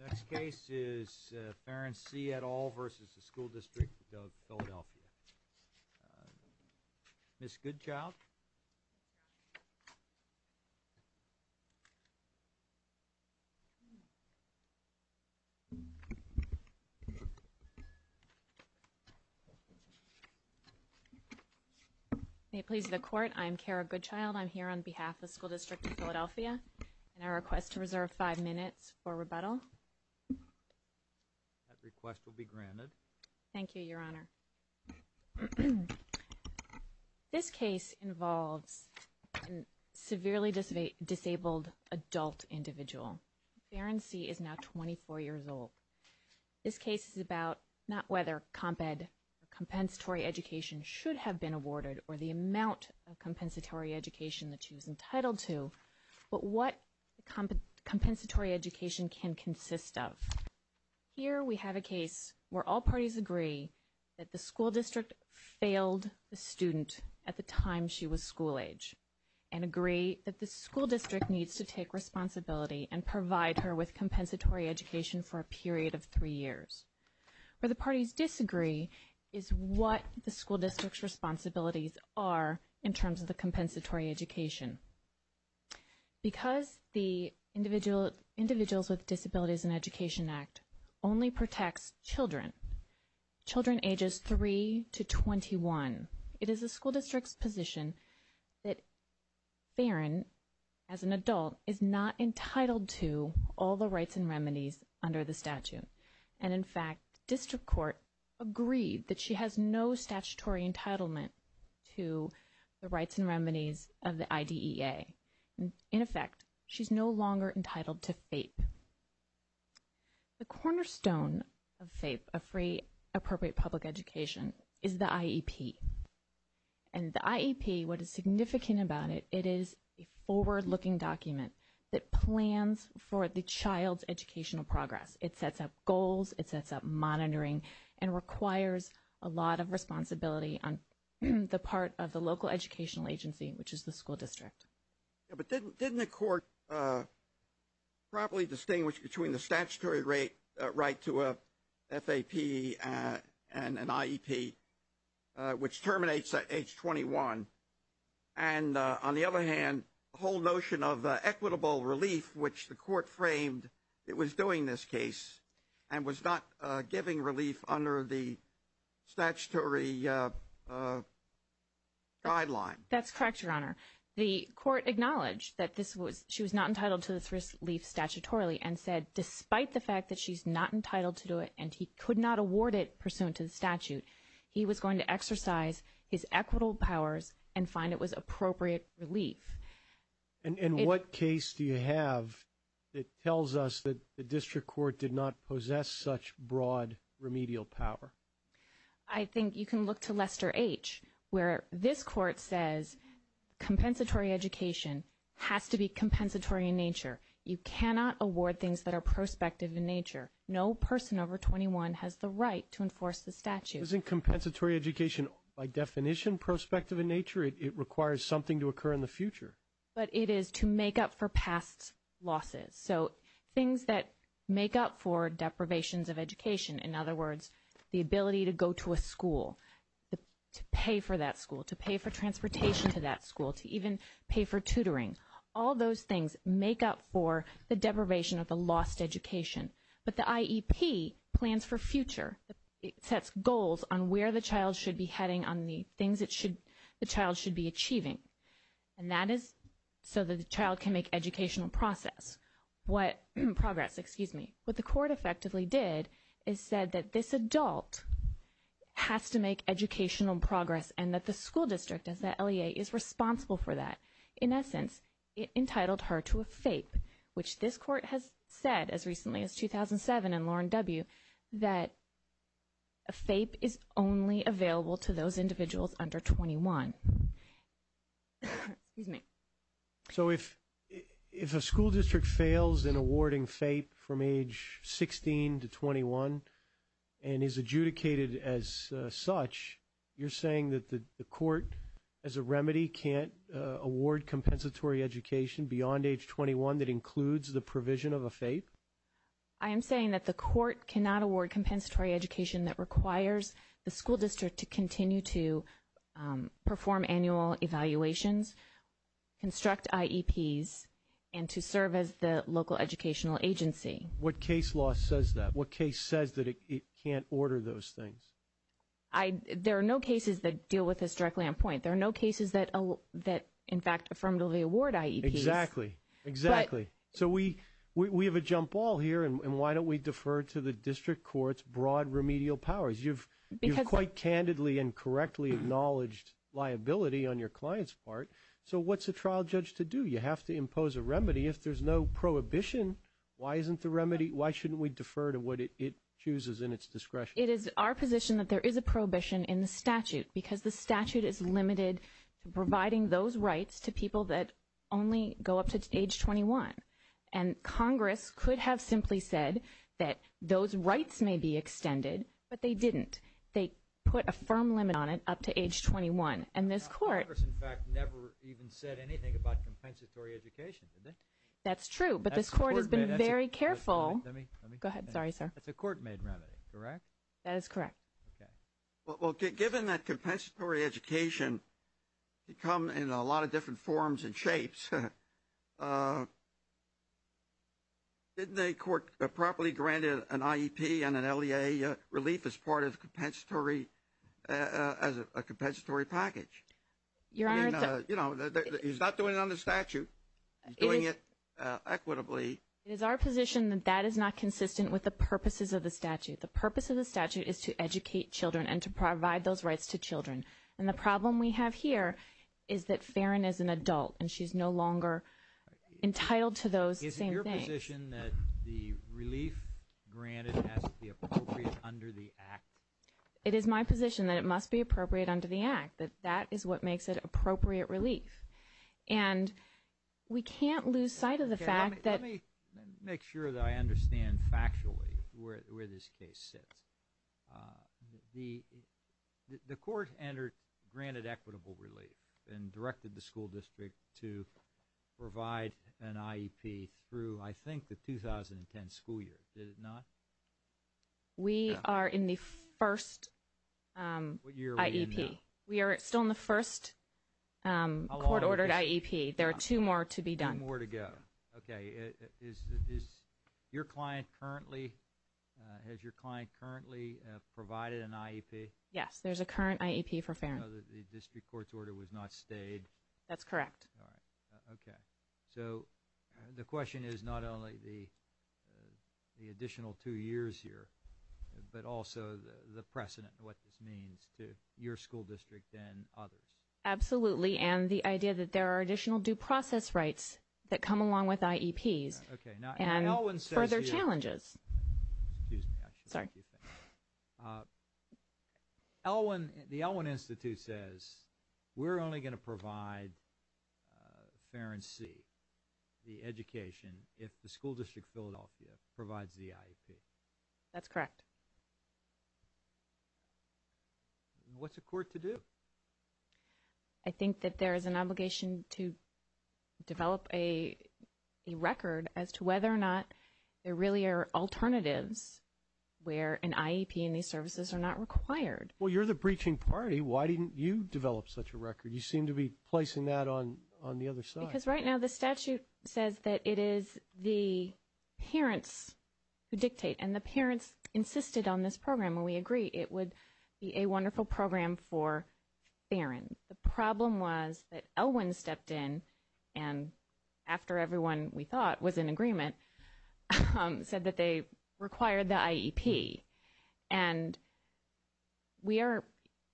Next case is Farren C. et al. v. School Districtof Philadelphia. Ms. Goodchild? May it please the Court, I'm Kara Goodchild. I'm here on behalf of the School District of Philadelphia and I request to reserve five minutes for rebuttal. That request will be granted. Thank you, Your Honor. This case involves a severely disabled adult individual. Farren C. is now 24 years old. This case is about not whether comp ed or compensatory education should have been awarded or the amount of compensatory education that she was entitled to, but what compensatory education can consist of. Here we have a case where all parties agree that the school district failed the student at the time she was school age and agree that the school district needs to take responsibility and provide her with compensatory education for a period of three years. Where the parties disagree is what the school district's responsibilities are in terms of the compensatory education. Because the Individuals with Disabilities in Education Act only protects children, children ages 3 to 21, it is the school district's position that Farren, as an adult, is not entitled to all the rights and remedies under the statute. And, in fact, the district court agreed that she has no statutory entitlement to the rights and remedies of the IDEA. In effect, she's no longer entitled to FAPE. The cornerstone of FAPE, of Free Appropriate Public Education, is the IEP. And the IEP, what is significant about it, it is a forward-looking document that plans for the child's educational progress. It sets up goals, it sets up monitoring, and requires a lot of responsibility on the part of the local educational agency, which is the school district. But didn't the court properly distinguish between the statutory right to a FAPE and an IEP, which terminates at age 21? And, on the other hand, the whole notion of equitable relief, which the court framed it was doing this case and was not giving relief under the statutory guideline. That's correct, Your Honor. The court acknowledged that she was not entitled to this relief statutorily and said despite the fact that she's not entitled to do it and he could not award it pursuant to the statute, he was going to exercise his equitable powers and find it was appropriate relief. And what case do you have that tells us that the district court did not possess such broad remedial power? I think you can look to Lester H., where this court says compensatory education has to be compensatory in nature. You cannot award things that are prospective in nature. No person over 21 has the right to enforce the statute. Isn't compensatory education, by definition, prospective in nature? It requires something to occur in the future. But it is to make up for past losses. So things that make up for deprivations of education, in other words, the ability to go to a school, to pay for that school, to pay for transportation to that school, to even pay for tutoring, all those things make up for the deprivation of the lost education. But the IEP plans for future. It sets goals on where the child should be heading, on the things the child should be achieving. And that is so that the child can make educational progress. What the court effectively did is said that this adult has to make educational progress and that the school district, as the LEA, is responsible for that. In essence, it entitled her to a FAPE, which this court has said, as recently as 2007 in Lauren W., that a FAPE is only available to those individuals under 21. So if a school district fails in awarding FAPE from age 16 to 21 and is adjudicated as such, you're saying that the court, as a remedy, can't award compensatory education beyond age 21 that includes the provision of a FAPE? I am saying that the court cannot award compensatory education that requires the school district to continue to perform annual evaluations, construct IEPs, and to serve as the local educational agency. What case law says that? What case says that it can't order those things? There are no cases that deal with this directly on point. There are no cases that, in fact, affirmatively award IEPs. Exactly, exactly. So we have a jump ball here, and why don't we defer to the district court's broad remedial powers? You've quite candidly and correctly acknowledged liability on your client's part. So what's a trial judge to do? You have to impose a remedy. If there's no prohibition, why isn't the remedy? Why shouldn't we defer to what it chooses in its discretion? It is our position that there is a prohibition in the statute because the statute is limited to providing those rights to people that only go up to age 21. And Congress could have simply said that those rights may be extended, but they didn't. They put a firm limit on it up to age 21. And this court- Congress, in fact, never even said anything about compensatory education, did they? That's true, but this court has been very careful. Go ahead. Sorry, sir. That's a court-made remedy, correct? That is correct. Okay. Well, given that compensatory education can come in a lot of different forms and shapes, didn't the court properly grant an IEP and an LEA relief as part of a compensatory package? Your Honor- You know, he's not doing it under statute. He's doing it equitably. It is our position that that is not consistent with the purposes of the statute. The purpose of the statute is to educate children and to provide those rights to children. And the problem we have here is that Farron is an adult, and she's no longer entitled to those same things. Is it your position that the relief granted has to be appropriate under the Act? It is my position that it must be appropriate under the Act, that that is what makes it appropriate relief. And we can't lose sight of the fact that- The court granted equitable relief and directed the school district to provide an IEP through, I think, the 2010 school year. Did it not? We are in the first IEP. We are still in the first court-ordered IEP. There are two more to be done. Two more to go. Okay. Has your client currently provided an IEP? Yes. There's a current IEP for Farron. So the district court's order was not stayed? That's correct. All right. Okay. So the question is not only the additional two years here, but also the precedent and what this means to your school district and others. Absolutely. And the idea that there are additional due process rights that come along with IEPs and further challenges. Excuse me. Sorry. The Elwin Institute says we're only going to provide Farron C, the education, if the school district of Philadelphia provides the IEP. That's correct. What's the court to do? I think that there is an obligation to develop a record as to whether or not there really are alternatives where an IEP and these services are not required. Well, you're the breaching party. Why didn't you develop such a record? You seem to be placing that on the other side. Because right now the statute says that it is the parents who dictate, and the parents insisted on this program, and we agree it would be a wonderful program for Farron. The problem was that Elwin stepped in and, after everyone we thought was in agreement, said that they required the IEP. And we are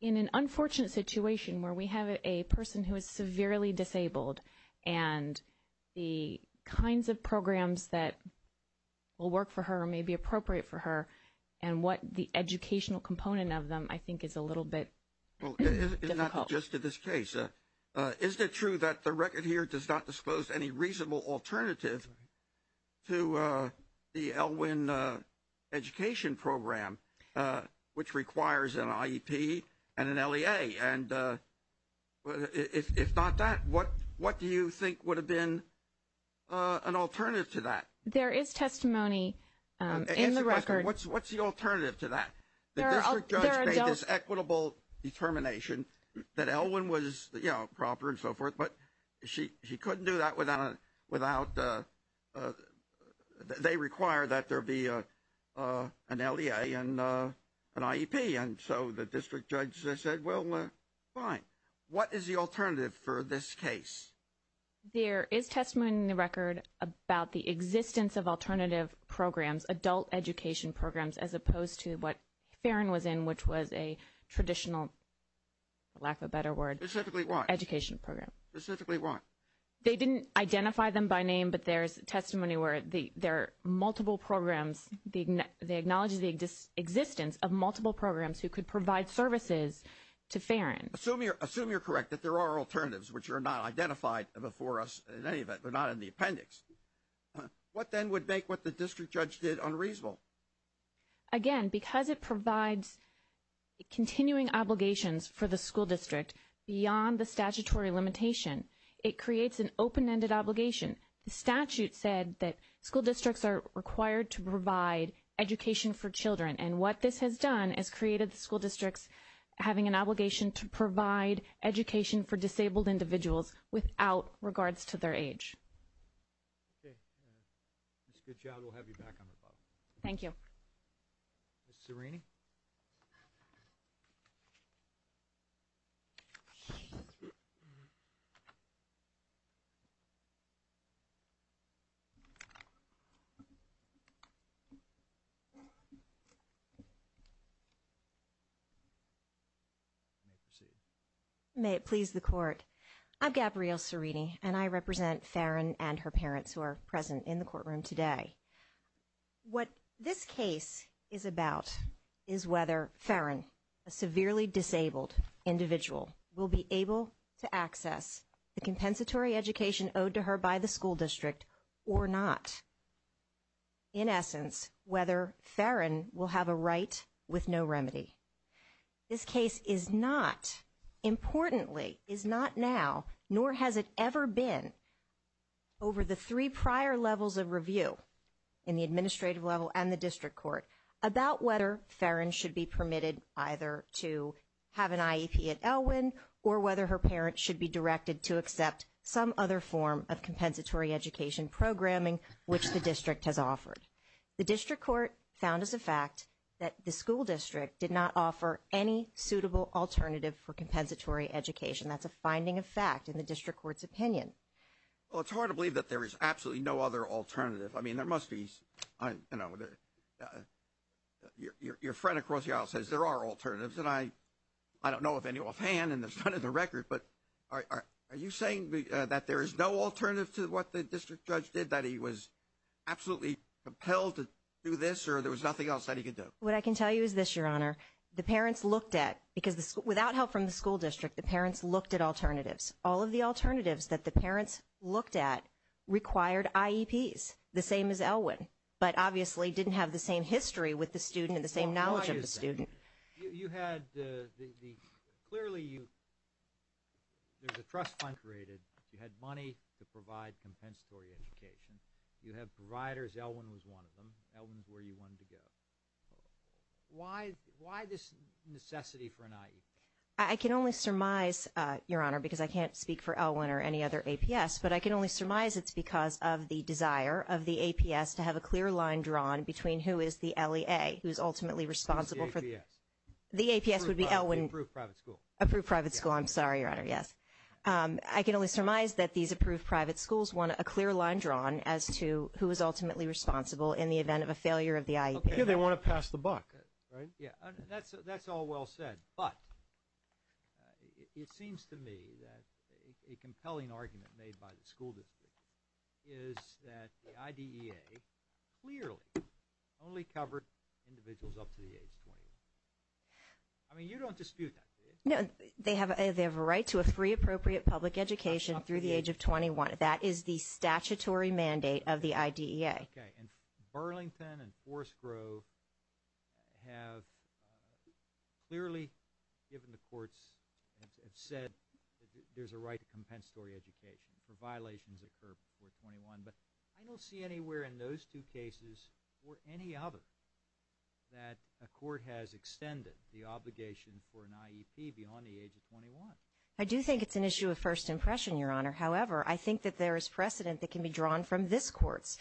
in an unfortunate situation where we have a person who is severely disabled, and the kinds of programs that will work for her or may be appropriate for her, and what the educational component of them I think is a little bit difficult. Just to this case, is it true that the record here does not disclose any reasonable alternative to the Elwin education program, which requires an IEP and an LEA? And if not that, what do you think would have been an alternative to that? There is testimony in the record. What's the alternative to that? The district judge made this equitable determination that Elwin was proper and so forth, but she couldn't do that without, they require that there be an LEA and an IEP. And so the district judge said, well, fine. What is the alternative for this case? There is testimony in the record about the existence of alternative programs, adult education programs, as opposed to what Farron was in, which was a traditional, for lack of a better word. Specifically what? Education program. Specifically what? They didn't identify them by name, but there's testimony where there are multiple programs. They acknowledge the existence of multiple programs who could provide services to Farron. Assume you're correct that there are alternatives which are not identified before us in any event. They're not in the appendix. What then would make what the district judge did unreasonable? Again, because it provides continuing obligations for the school district beyond the statutory limitation, it creates an open-ended obligation. The statute said that school districts are required to provide education for children. And what this has done is created the school districts having an obligation to provide education for disabled individuals without regards to their age. Okay. Ms. Goodchild, we'll have you back on the call. Thank you. Ms. Serrini? May it please the court. I'm Gabrielle Serrini, and I represent Farron and her parents who are present in the courtroom today. What this case is about is whether Farron, a severely disabled individual, will be able to access the compensatory education owed to her by the school district or not. In essence, whether Farron will have a right with no remedy. This case is not, importantly, is not now, nor has it ever been, over the three prior levels of review in the administrative level and the district court, about whether Farron should be permitted either to have an IEP at Elwynn or whether her parents should be directed to accept some other form of compensatory education programming which the district has offered. The district court found as a fact that the school district did not offer any suitable alternative for compensatory education. That's a finding of fact in the district court's opinion. Well, it's hard to believe that there is absolutely no other alternative. I mean, there must be, you know, your friend across the aisle says there are alternatives, and I don't know of any offhand, and there's none in the record. But are you saying that there is no alternative to what the district judge did, that he was absolutely compelled to do this or there was nothing else that he could do? What I can tell you is this, Your Honor. The parents looked at, because without help from the school district, the parents looked at alternatives. All of the alternatives that the parents looked at required IEPs, the same as Elwynn, but obviously didn't have the same history with the student and the same knowledge of the student. You had the – clearly you – there's a trust fund created. You had money to provide compensatory education. You have providers. Elwynn was one of them. Elwynn is where you wanted to go. Why this necessity for an IEP? I can only surmise, Your Honor, because I can't speak for Elwynn or any other APS, but I can only surmise it's because of the desire of the APS to have a clear line drawn between who is the LEA, who is ultimately responsible for – Who's the APS? The APS would be Elwynn. Approved private school. Approved private school. I'm sorry, Your Honor. Yes. I can only surmise that these approved private schools want a clear line drawn as to who is ultimately responsible in the event of a failure of the IEP. They want to pass the buck, right? Yeah. That's all well said. But it seems to me that a compelling argument made by the school district is that the IDEA clearly only covered individuals up to the age of 21. I mean, you don't dispute that, do you? No. They have a right to a free, appropriate public education through the age of 21. That is the statutory mandate of the IDEA. Okay. And Burlington and Forest Grove have clearly, given the courts, have said there's a right to compensatory education for violations that occur before 21. But I don't see anywhere in those two cases or any other that a court has extended the obligation for an IEP beyond the age of 21. I do think it's an issue of first impression, Your Honor. However, I think that there is precedent that can be drawn from this court's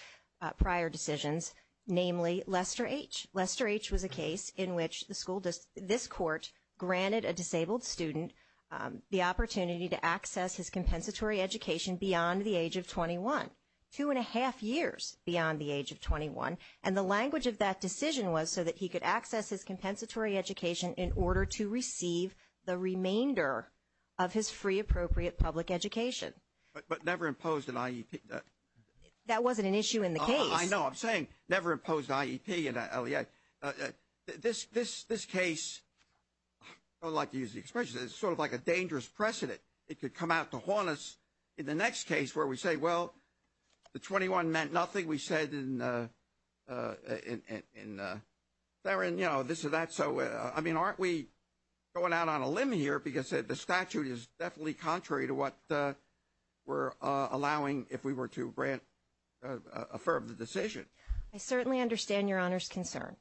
prior decisions, namely Lester H. Lester H. was a case in which this court granted a disabled student the opportunity to access his compensatory education beyond the age of 21. Two and a half years beyond the age of 21. And the language of that decision was so that he could access his compensatory education in order to receive the remainder of his free, appropriate public education. But never imposed an IEP. That wasn't an issue in the case. I know. I'm saying never imposed IEP. This case, I don't like to use the expression, it's sort of like a dangerous precedent. It could come out to haunt us in the next case where we say, well, the 21 meant nothing. We said in there and, you know, this or that. So, I mean, aren't we going out on a limb here? Because the statute is definitely contrary to what we're allowing if we were to grant a fair decision. I certainly understand Your Honor's concern.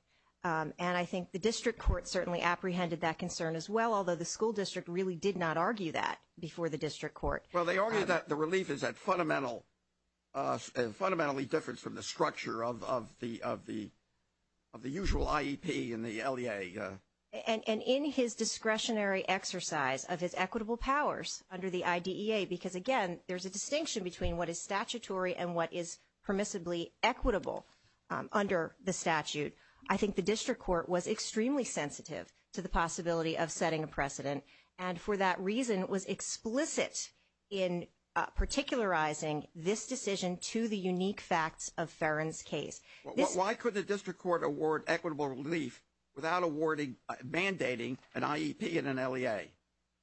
And I think the district court certainly apprehended that concern as well, although the school district really did not argue that before the district court. Well, they argued that the relief is fundamentally different from the structure of the usual IEP in the LEA. And in his discretionary exercise of his equitable powers under the IDEA, because, again, there's a distinction between what is statutory and what is permissibly equitable under the statute. I think the district court was extremely sensitive to the possibility of setting a precedent. And for that reason, it was explicit in particularizing this decision to the unique facts of Farron's case. Why could the district court award equitable relief without awarding, mandating an IEP and an LEA?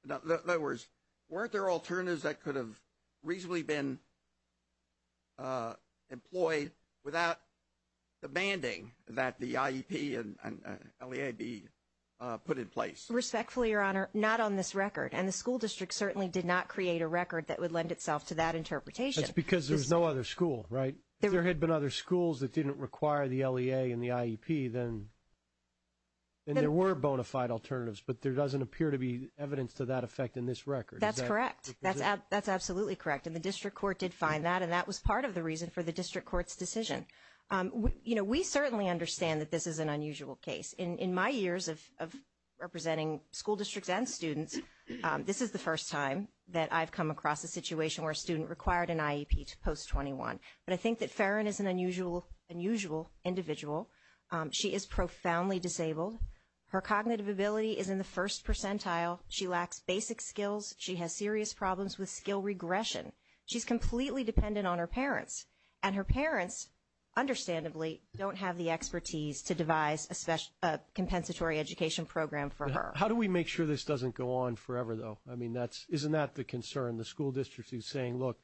In other words, weren't there alternatives that could have reasonably been employed without demanding that the IEP and LEA be put in place? Respectfully, Your Honor, not on this record. And the school district certainly did not create a record that would lend itself to that interpretation. That's because there's no other school, right? If there had been other schools that didn't require the LEA and the IEP, then there were bona fide alternatives. But there doesn't appear to be evidence to that effect in this record. That's correct. That's absolutely correct. And the district court did find that. And that was part of the reason for the district court's decision. You know, we certainly understand that this is an unusual case. In my years of representing school districts and students, this is the first time that I've come across a situation where a student required an IEP to post 21. But I think that Farron is an unusual individual. She is profoundly disabled. Her cognitive ability is in the first percentile. She lacks basic skills. She has serious problems with skill regression. She's completely dependent on her parents. And her parents, understandably, don't have the expertise to devise a compensatory education program for her. How do we make sure this doesn't go on forever, though? I mean, isn't that the concern? The school district is saying, look,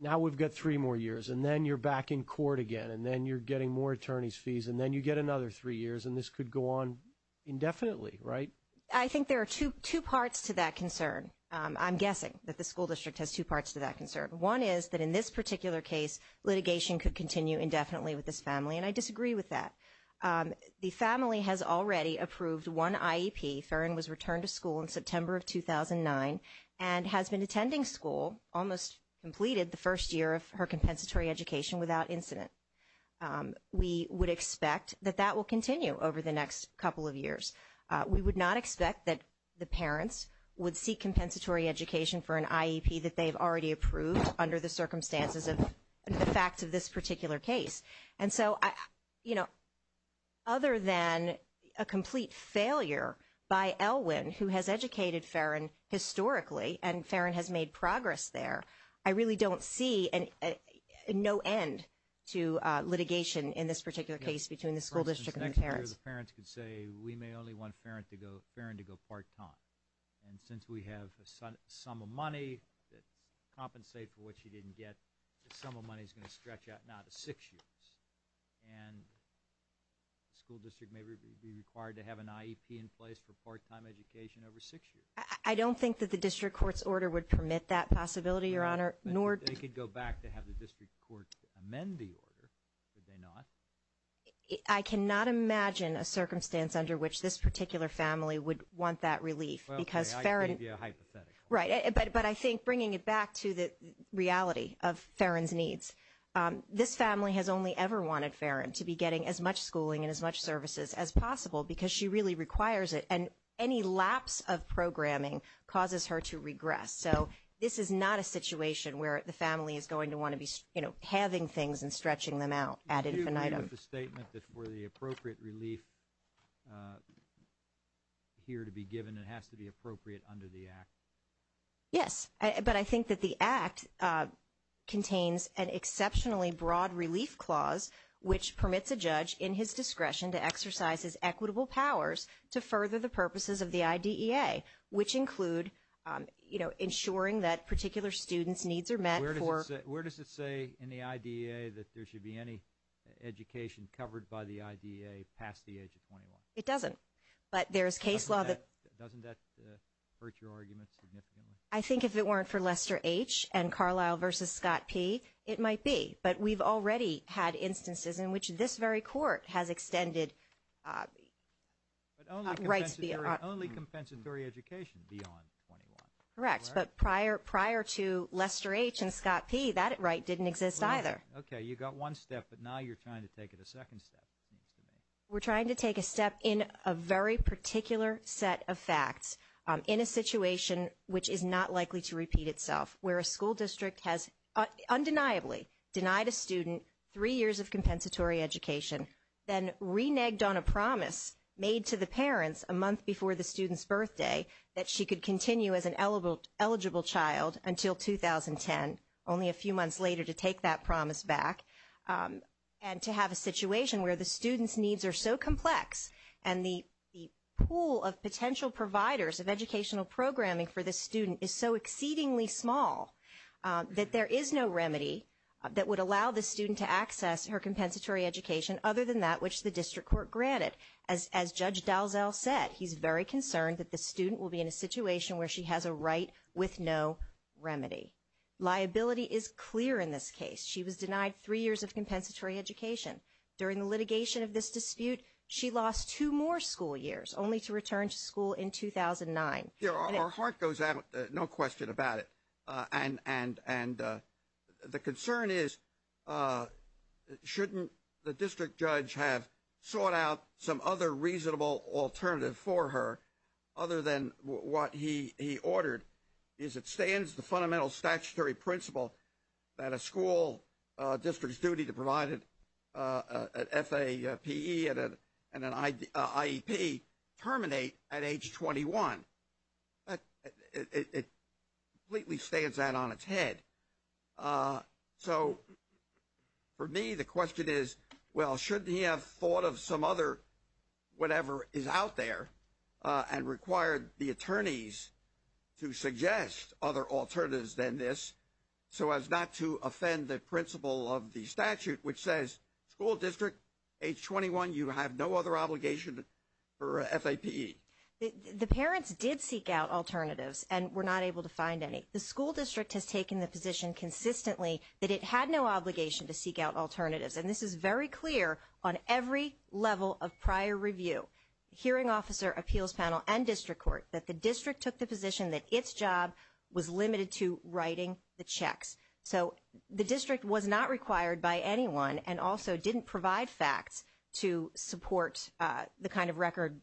now we've got three more years, and then you're back in court again, and then you're getting more attorney's fees, and then you get another three years, and this could go on indefinitely, right? I think there are two parts to that concern. I'm guessing that the school district has two parts to that concern. One is that in this particular case, litigation could continue indefinitely with this family, and I disagree with that. The family has already approved one IEP. Farron was returned to school in September of 2009 and has been attending school, almost completed the first year of her compensatory education without incident. We would expect that that will continue over the next couple of years. We would not expect that the parents would seek compensatory education for an IEP that they've already approved under the circumstances of the facts of this particular case. And so, you know, other than a complete failure by Elwin, who has educated Farron historically, and Farron has made progress there, I really don't see no end to litigation in this particular case between the school district and the parents. The parents could say, we may only want Farron to go part-time, and since we have a sum of money that's compensated for what she didn't get, the sum of money is going to stretch out now to six years. And the school district may be required to have an IEP in place for part-time education over six years. I don't think that the district court's order would permit that possibility, Your Honor, nor – They could go back to have the district court amend the order, could they not? I cannot imagine a circumstance under which this particular family would want that relief because Farron – Okay, I can give you a hypothetical. Right, but I think bringing it back to the reality of Farron's needs, this family has only ever wanted Farron to be getting as much schooling and as much services as possible because she really requires it, and any lapse of programming causes her to regress. So this is not a situation where the family is going to want to be, you know, having things and stretching them out ad infinitum. I agree with the statement that for the appropriate relief here to be given, it has to be appropriate under the Act. Yes, but I think that the Act contains an exceptionally broad relief clause which permits a judge in his discretion to exercise his equitable powers to further the purposes of the IDEA, which include, you know, ensuring that particular students' needs are met for – Where does it say in the IDEA that there should be any education covered by the IDEA past the age of 21? It doesn't, but there's case law that – Doesn't that hurt your argument significantly? I think if it weren't for Lester H. and Carlisle v. Scott P., it might be, but we've already had instances in which this very court has extended rights – But only compensatory education beyond 21. Correct, but prior to Lester H. and Scott P., that right didn't exist either. Okay, you got one step, but now you're trying to take it a second step, it seems to me. We're trying to take a step in a very particular set of facts in a situation which is not likely to repeat itself, where a school district has undeniably denied a student three years of compensatory education, then reneged on a promise made to the parents a month before the student's birthday that she could continue as an eligible child until 2010, only a few months later to take that promise back, and to have a situation where the student's needs are so complex and the pool of potential providers of educational programming for the student is so exceedingly small that there is no remedy that would allow the student to access her compensatory education other than that which the district court granted. But as Judge Dalzell said, he's very concerned that the student will be in a situation where she has a right with no remedy. Liability is clear in this case. She was denied three years of compensatory education. During the litigation of this dispute, she lost two more school years, only to return to school in 2009. Our heart goes out, no question about it. And the concern is, shouldn't the district judge have sought out some other reasonable alternative for her other than what he ordered, is it stands the fundamental statutory principle that a school district's duty to provide an FAPE and an IEP terminate at age 21? It completely stands out on its head. So for me, the question is, well, shouldn't he have thought of some other whatever is out there and required the attorneys to suggest other alternatives than this so as not to offend the principle of the statute, which says school district age 21, you have no other obligation for FAPE. The parents did seek out alternatives and were not able to find any. The school district has taken the position consistently that it had no obligation to seek out alternatives. And this is very clear on every level of prior review. Hearing officer, appeals panel, and district court that the district took the position that its job was limited to writing the checks. So the district was not required by anyone and also didn't provide facts to support the kind of record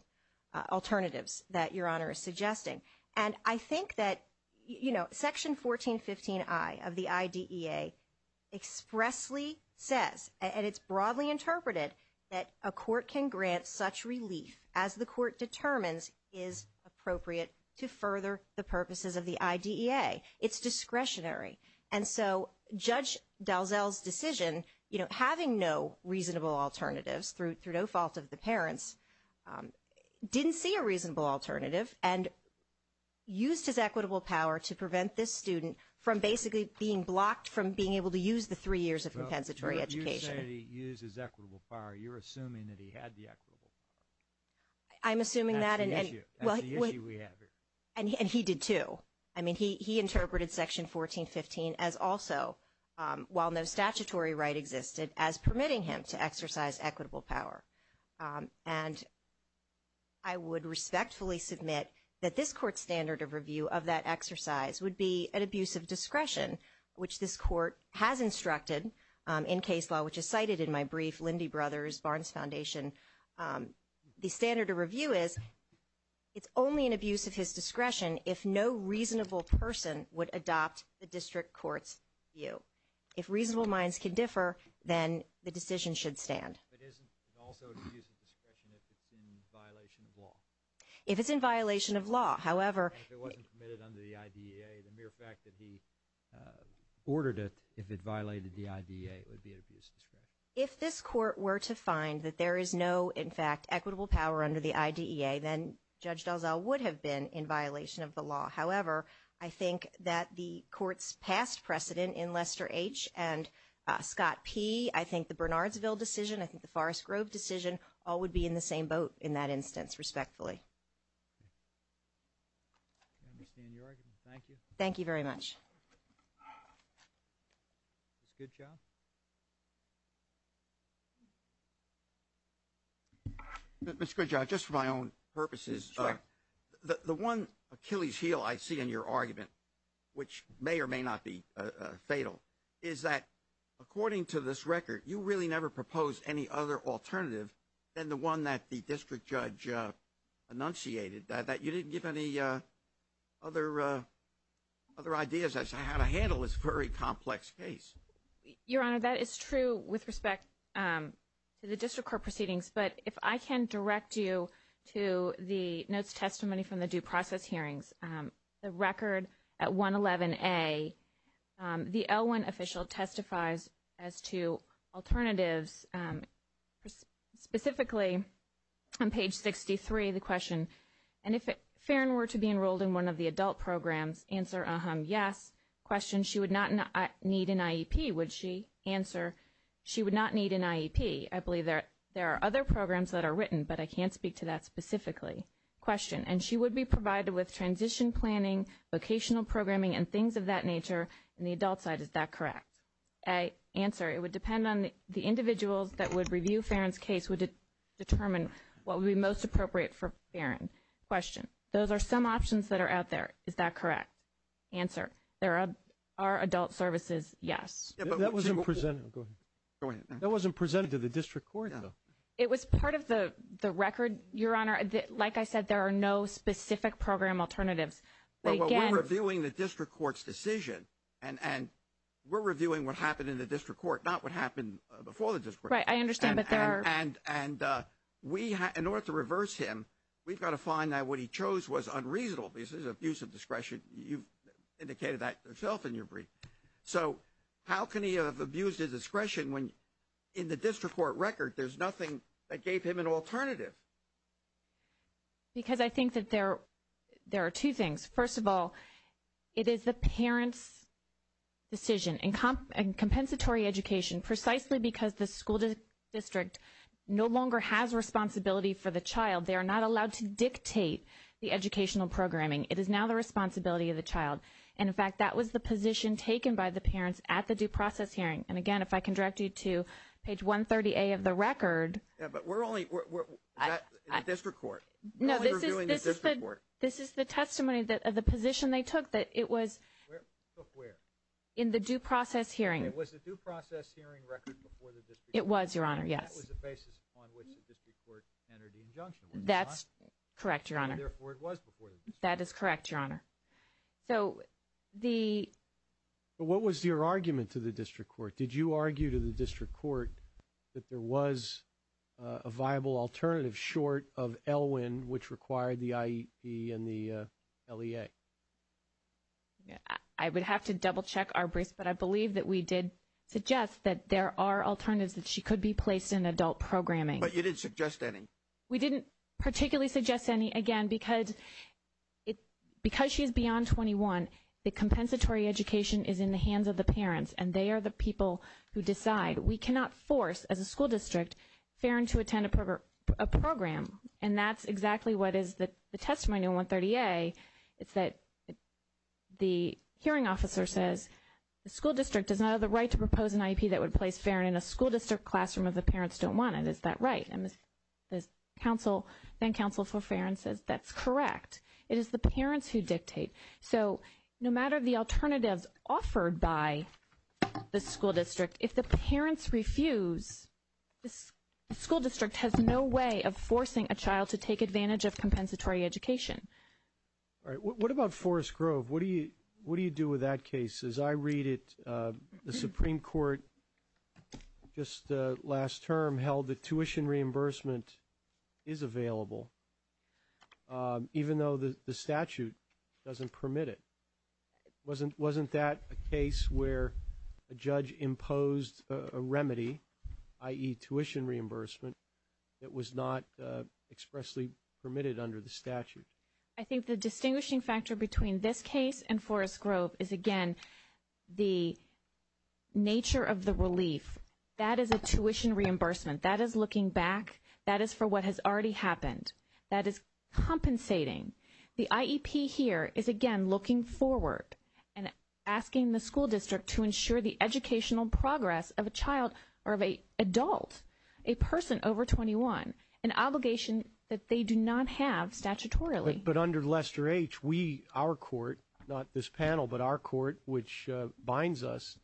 alternatives that Your Honor is suggesting. And I think that, you know, Section 1415I of the IDEA expressly says, and it's broadly interpreted that a court can grant such relief as the court determines is appropriate to further the purposes of the IDEA. It's discretionary. And so Judge Dalzell's decision, you know, having no reasonable alternatives through no fault of the parents, didn't see a reasonable alternative and used his equitable power to prevent this student from basically being blocked from being able to use the three years of compensatory education. When you say he used his equitable power, you're assuming that he had the equitable power. I'm assuming that. That's the issue. That's the issue we have here. And he did too. I mean, he interpreted Section 1415 as also, while no statutory right existed, as permitting him to exercise equitable power. And I would respectfully submit that this court's standard of review of that exercise would be an abuse of discretion, which this court has instructed in case law, which is cited in my brief, Lindy Brothers, Barnes Foundation. The standard of review is it's only an abuse of his discretion if no reasonable person would adopt the district court's view. If reasonable minds can differ, then the decision should stand. But isn't it also an abuse of discretion if it's in violation of law? If it's in violation of law. If it wasn't permitted under the IDEA, the mere fact that he ordered it, if it violated the IDEA, it would be an abuse of discretion. If this court were to find that there is no, in fact, equitable power under the IDEA, then Judge Dalzell would have been in violation of the law. However, I think that the court's past precedent in Lester H. and Scott P. I think the Bernardsville decision, I think the Forest Grove decision, all would be in the same boat in that instance, respectfully. I understand your argument. Thank you. Thank you very much. Ms. Goodjob? Ms. Goodjob, just for my own purposes. Sure. The one Achilles heel I see in your argument, which may or may not be fatal, is that according to this record, you really never proposed any other alternative than the one that the district judge enunciated, that you didn't give any other ideas as to how to handle this very complex case. Your Honor, that is true with respect to the district court proceedings. But if I can direct you to the notes testimony from the due process hearings, the record at 111A, the L1 official testifies as to alternatives, specifically on page 63, the question, and if Farron were to be enrolled in one of the adult programs, answer, uh-huh, yes. Question, she would not need an IEP, would she? Answer, she would not need an IEP. I believe there are other programs that are written, but I can't speak to that specifically. Question, and she would be provided with transition planning, vocational programming, and things of that nature in the adult side. Is that correct? Answer, it would depend on the individuals that would review Farron's case would determine what would be most appropriate for Farron. Question, those are some options that are out there. Is that correct? Answer, there are adult services, yes. Go ahead. That wasn't presented to the district court, though. It was part of the record, Your Honor. Like I said, there are no specific program alternatives. Well, we're reviewing the district court's decision, and we're reviewing what happened in the district court, not what happened before the district court. Right, I understand, but there are. And in order to reverse him, we've got to find out what he chose was unreasonable, because this is abuse of discretion. You've indicated that yourself in your brief. So how can he have abused his discretion when, in the district court record, there's nothing that gave him an alternative? Because I think that there are two things. First of all, it is the parent's decision. In compensatory education, precisely because the school district no longer has responsibility for the child, they are not allowed to dictate the educational programming. It is now the responsibility of the child. And, in fact, that was the position taken by the parents at the due process hearing. And, again, if I can direct you to page 130A of the record. But we're only at the district court. No, this is the testimony of the position they took, that it was in the due process hearing. It was the due process hearing record before the district court. It was, Your Honor, yes. And that was the basis upon which the district court entered the injunction, was it not? That's correct, Your Honor. That is correct, Your Honor. So the. But what was your argument to the district court? Did you argue to the district court that there was a viable alternative short of ELWIN, which required the IEP and the LEA? I would have to double-check our briefs, but I believe that we did suggest that there are alternatives that she could be placed in adult programming. But you didn't suggest any. We didn't particularly suggest any, again, because she is beyond 21. The compensatory education is in the hands of the parents. And they are the people who decide. We cannot force, as a school district, Farron to attend a program. And that's exactly what is the testimony on 130A. It's that the hearing officer says the school district does not have the right to propose an IEP that would place Farron in a school district classroom if the parents don't want it. Is that right? And then counsel for Farron says that's correct. It is the parents who dictate. So no matter the alternatives offered by the school district, if the parents refuse, the school district has no way of forcing a child to take advantage of compensatory education. All right. What about Forest Grove? What do you do with that case? As I read it, the Supreme Court just last term held that tuition reimbursement is available, even though the statute doesn't permit it. Wasn't that a case where a judge imposed a remedy, i.e., tuition reimbursement, that was not expressly permitted under the statute? I think the distinguishing factor between this case and Forest Grove is, again, the nature of the relief. That is a tuition reimbursement. That is looking back. That is for what has already happened. That is compensating. The IEP here is, again, looking forward and asking the school district to ensure the educational progress of a child or of an adult, a person over 21, an obligation that they do not have statutorily. But under Lester H., we, our court, not this panel, but our court, which binds us,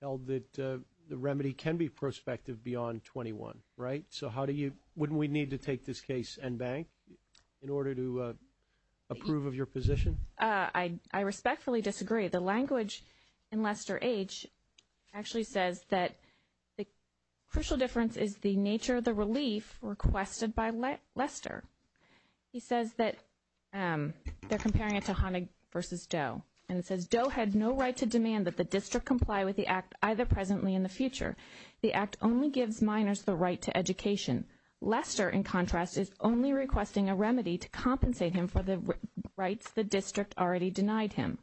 held that the remedy can be prospective beyond 21, right? So wouldn't we need to take this case en banc in order to approve of your position? I respectfully disagree. The language in Lester H. actually says that the crucial difference is the nature of the relief requested by Lester. He says that they're comparing it to Honig v. Doe, and it says, Doe had no right to demand that the district comply with the act either presently or in the future. The act only gives minors the right to education. Lester, in contrast, is only requesting a remedy to compensate him for the rights the district already denied him.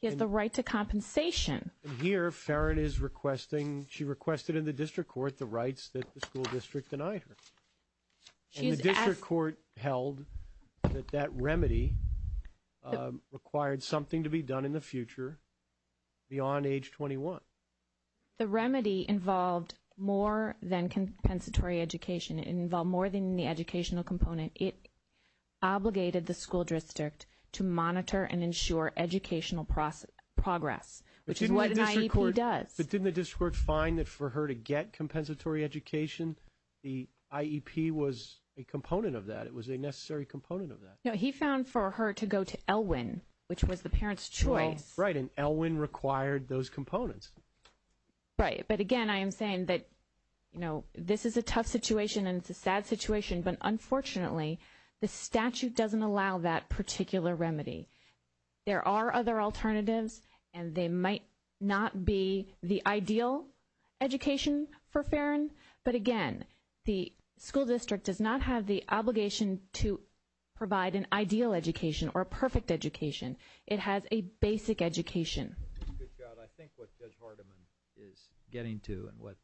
He has the right to compensation. Here, Farron is requesting, she requested in the district court the rights that the school district denied her. And the district court held that that remedy required something to be done in the future beyond age 21. The remedy involved more than compensatory education. It involved more than the educational component. It obligated the school district to monitor and ensure educational progress, which is what an IEP does. But didn't the district court find that for her to get compensatory education, the IEP was a component of that? It was a necessary component of that. No, he found for her to go to Elwin, which was the parent's choice. Right, and Elwin required those components. Right, but again, I am saying that, you know, this is a tough situation and it's a sad situation. But unfortunately, the statute doesn't allow that particular remedy. There are other alternatives, and they might not be the ideal education for Farron. But again, the school district does not have the obligation to provide an ideal education or a perfect education. It has a basic education. Ms. Goodchild, I think what Judge Hardiman is getting to and what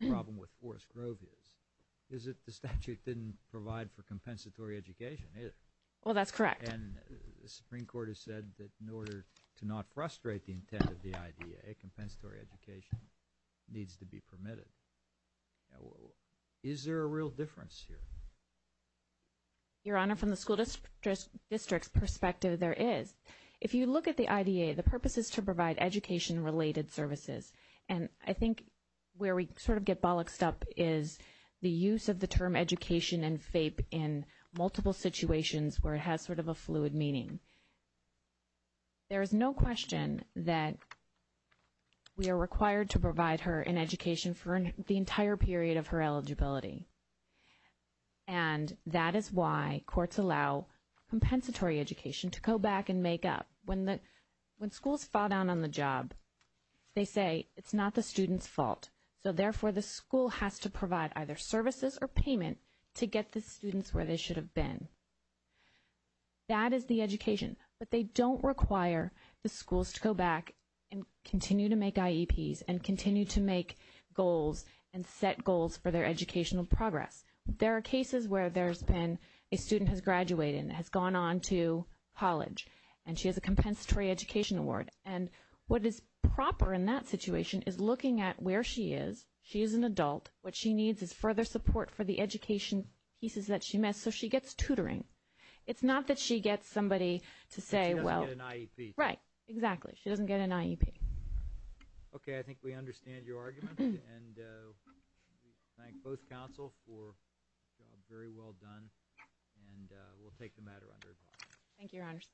the problem with Forrest Grove is, is that the statute didn't provide for compensatory education either. Well, that's correct. And the Supreme Court has said that in order to not frustrate the intent of the IDA, compensatory education needs to be permitted. Is there a real difference here? Your Honor, from the school district's perspective, there is. If you look at the IDA, the purpose is to provide education-related services. And I think where we sort of get bollocksed up is the use of the term education and FAPE in multiple situations where it has sort of a fluid meaning. There is no question that we are required to provide her an education for the entire period of her eligibility. And that is why courts allow compensatory education to go back and make up. When schools fall down on the job, they say it's not the student's fault. So therefore, the school has to provide either services or payment to get the students where they should have been. That is the education. But they don't require the schools to go back and continue to make IEPs and continue to make goals and set goals for their educational progress. There are cases where there's been a student has graduated and has gone on to college, and she has a compensatory education award. And what is proper in that situation is looking at where she is. She is an adult. What she needs is further support for the education pieces that she missed. And so she gets tutoring. It's not that she gets somebody to say, well. She doesn't get an IEP. Right, exactly. She doesn't get an IEP. Okay, I think we understand your argument. And we thank both counsel for a job very well done. And we'll take the matter under review. Thank you, Your Honors.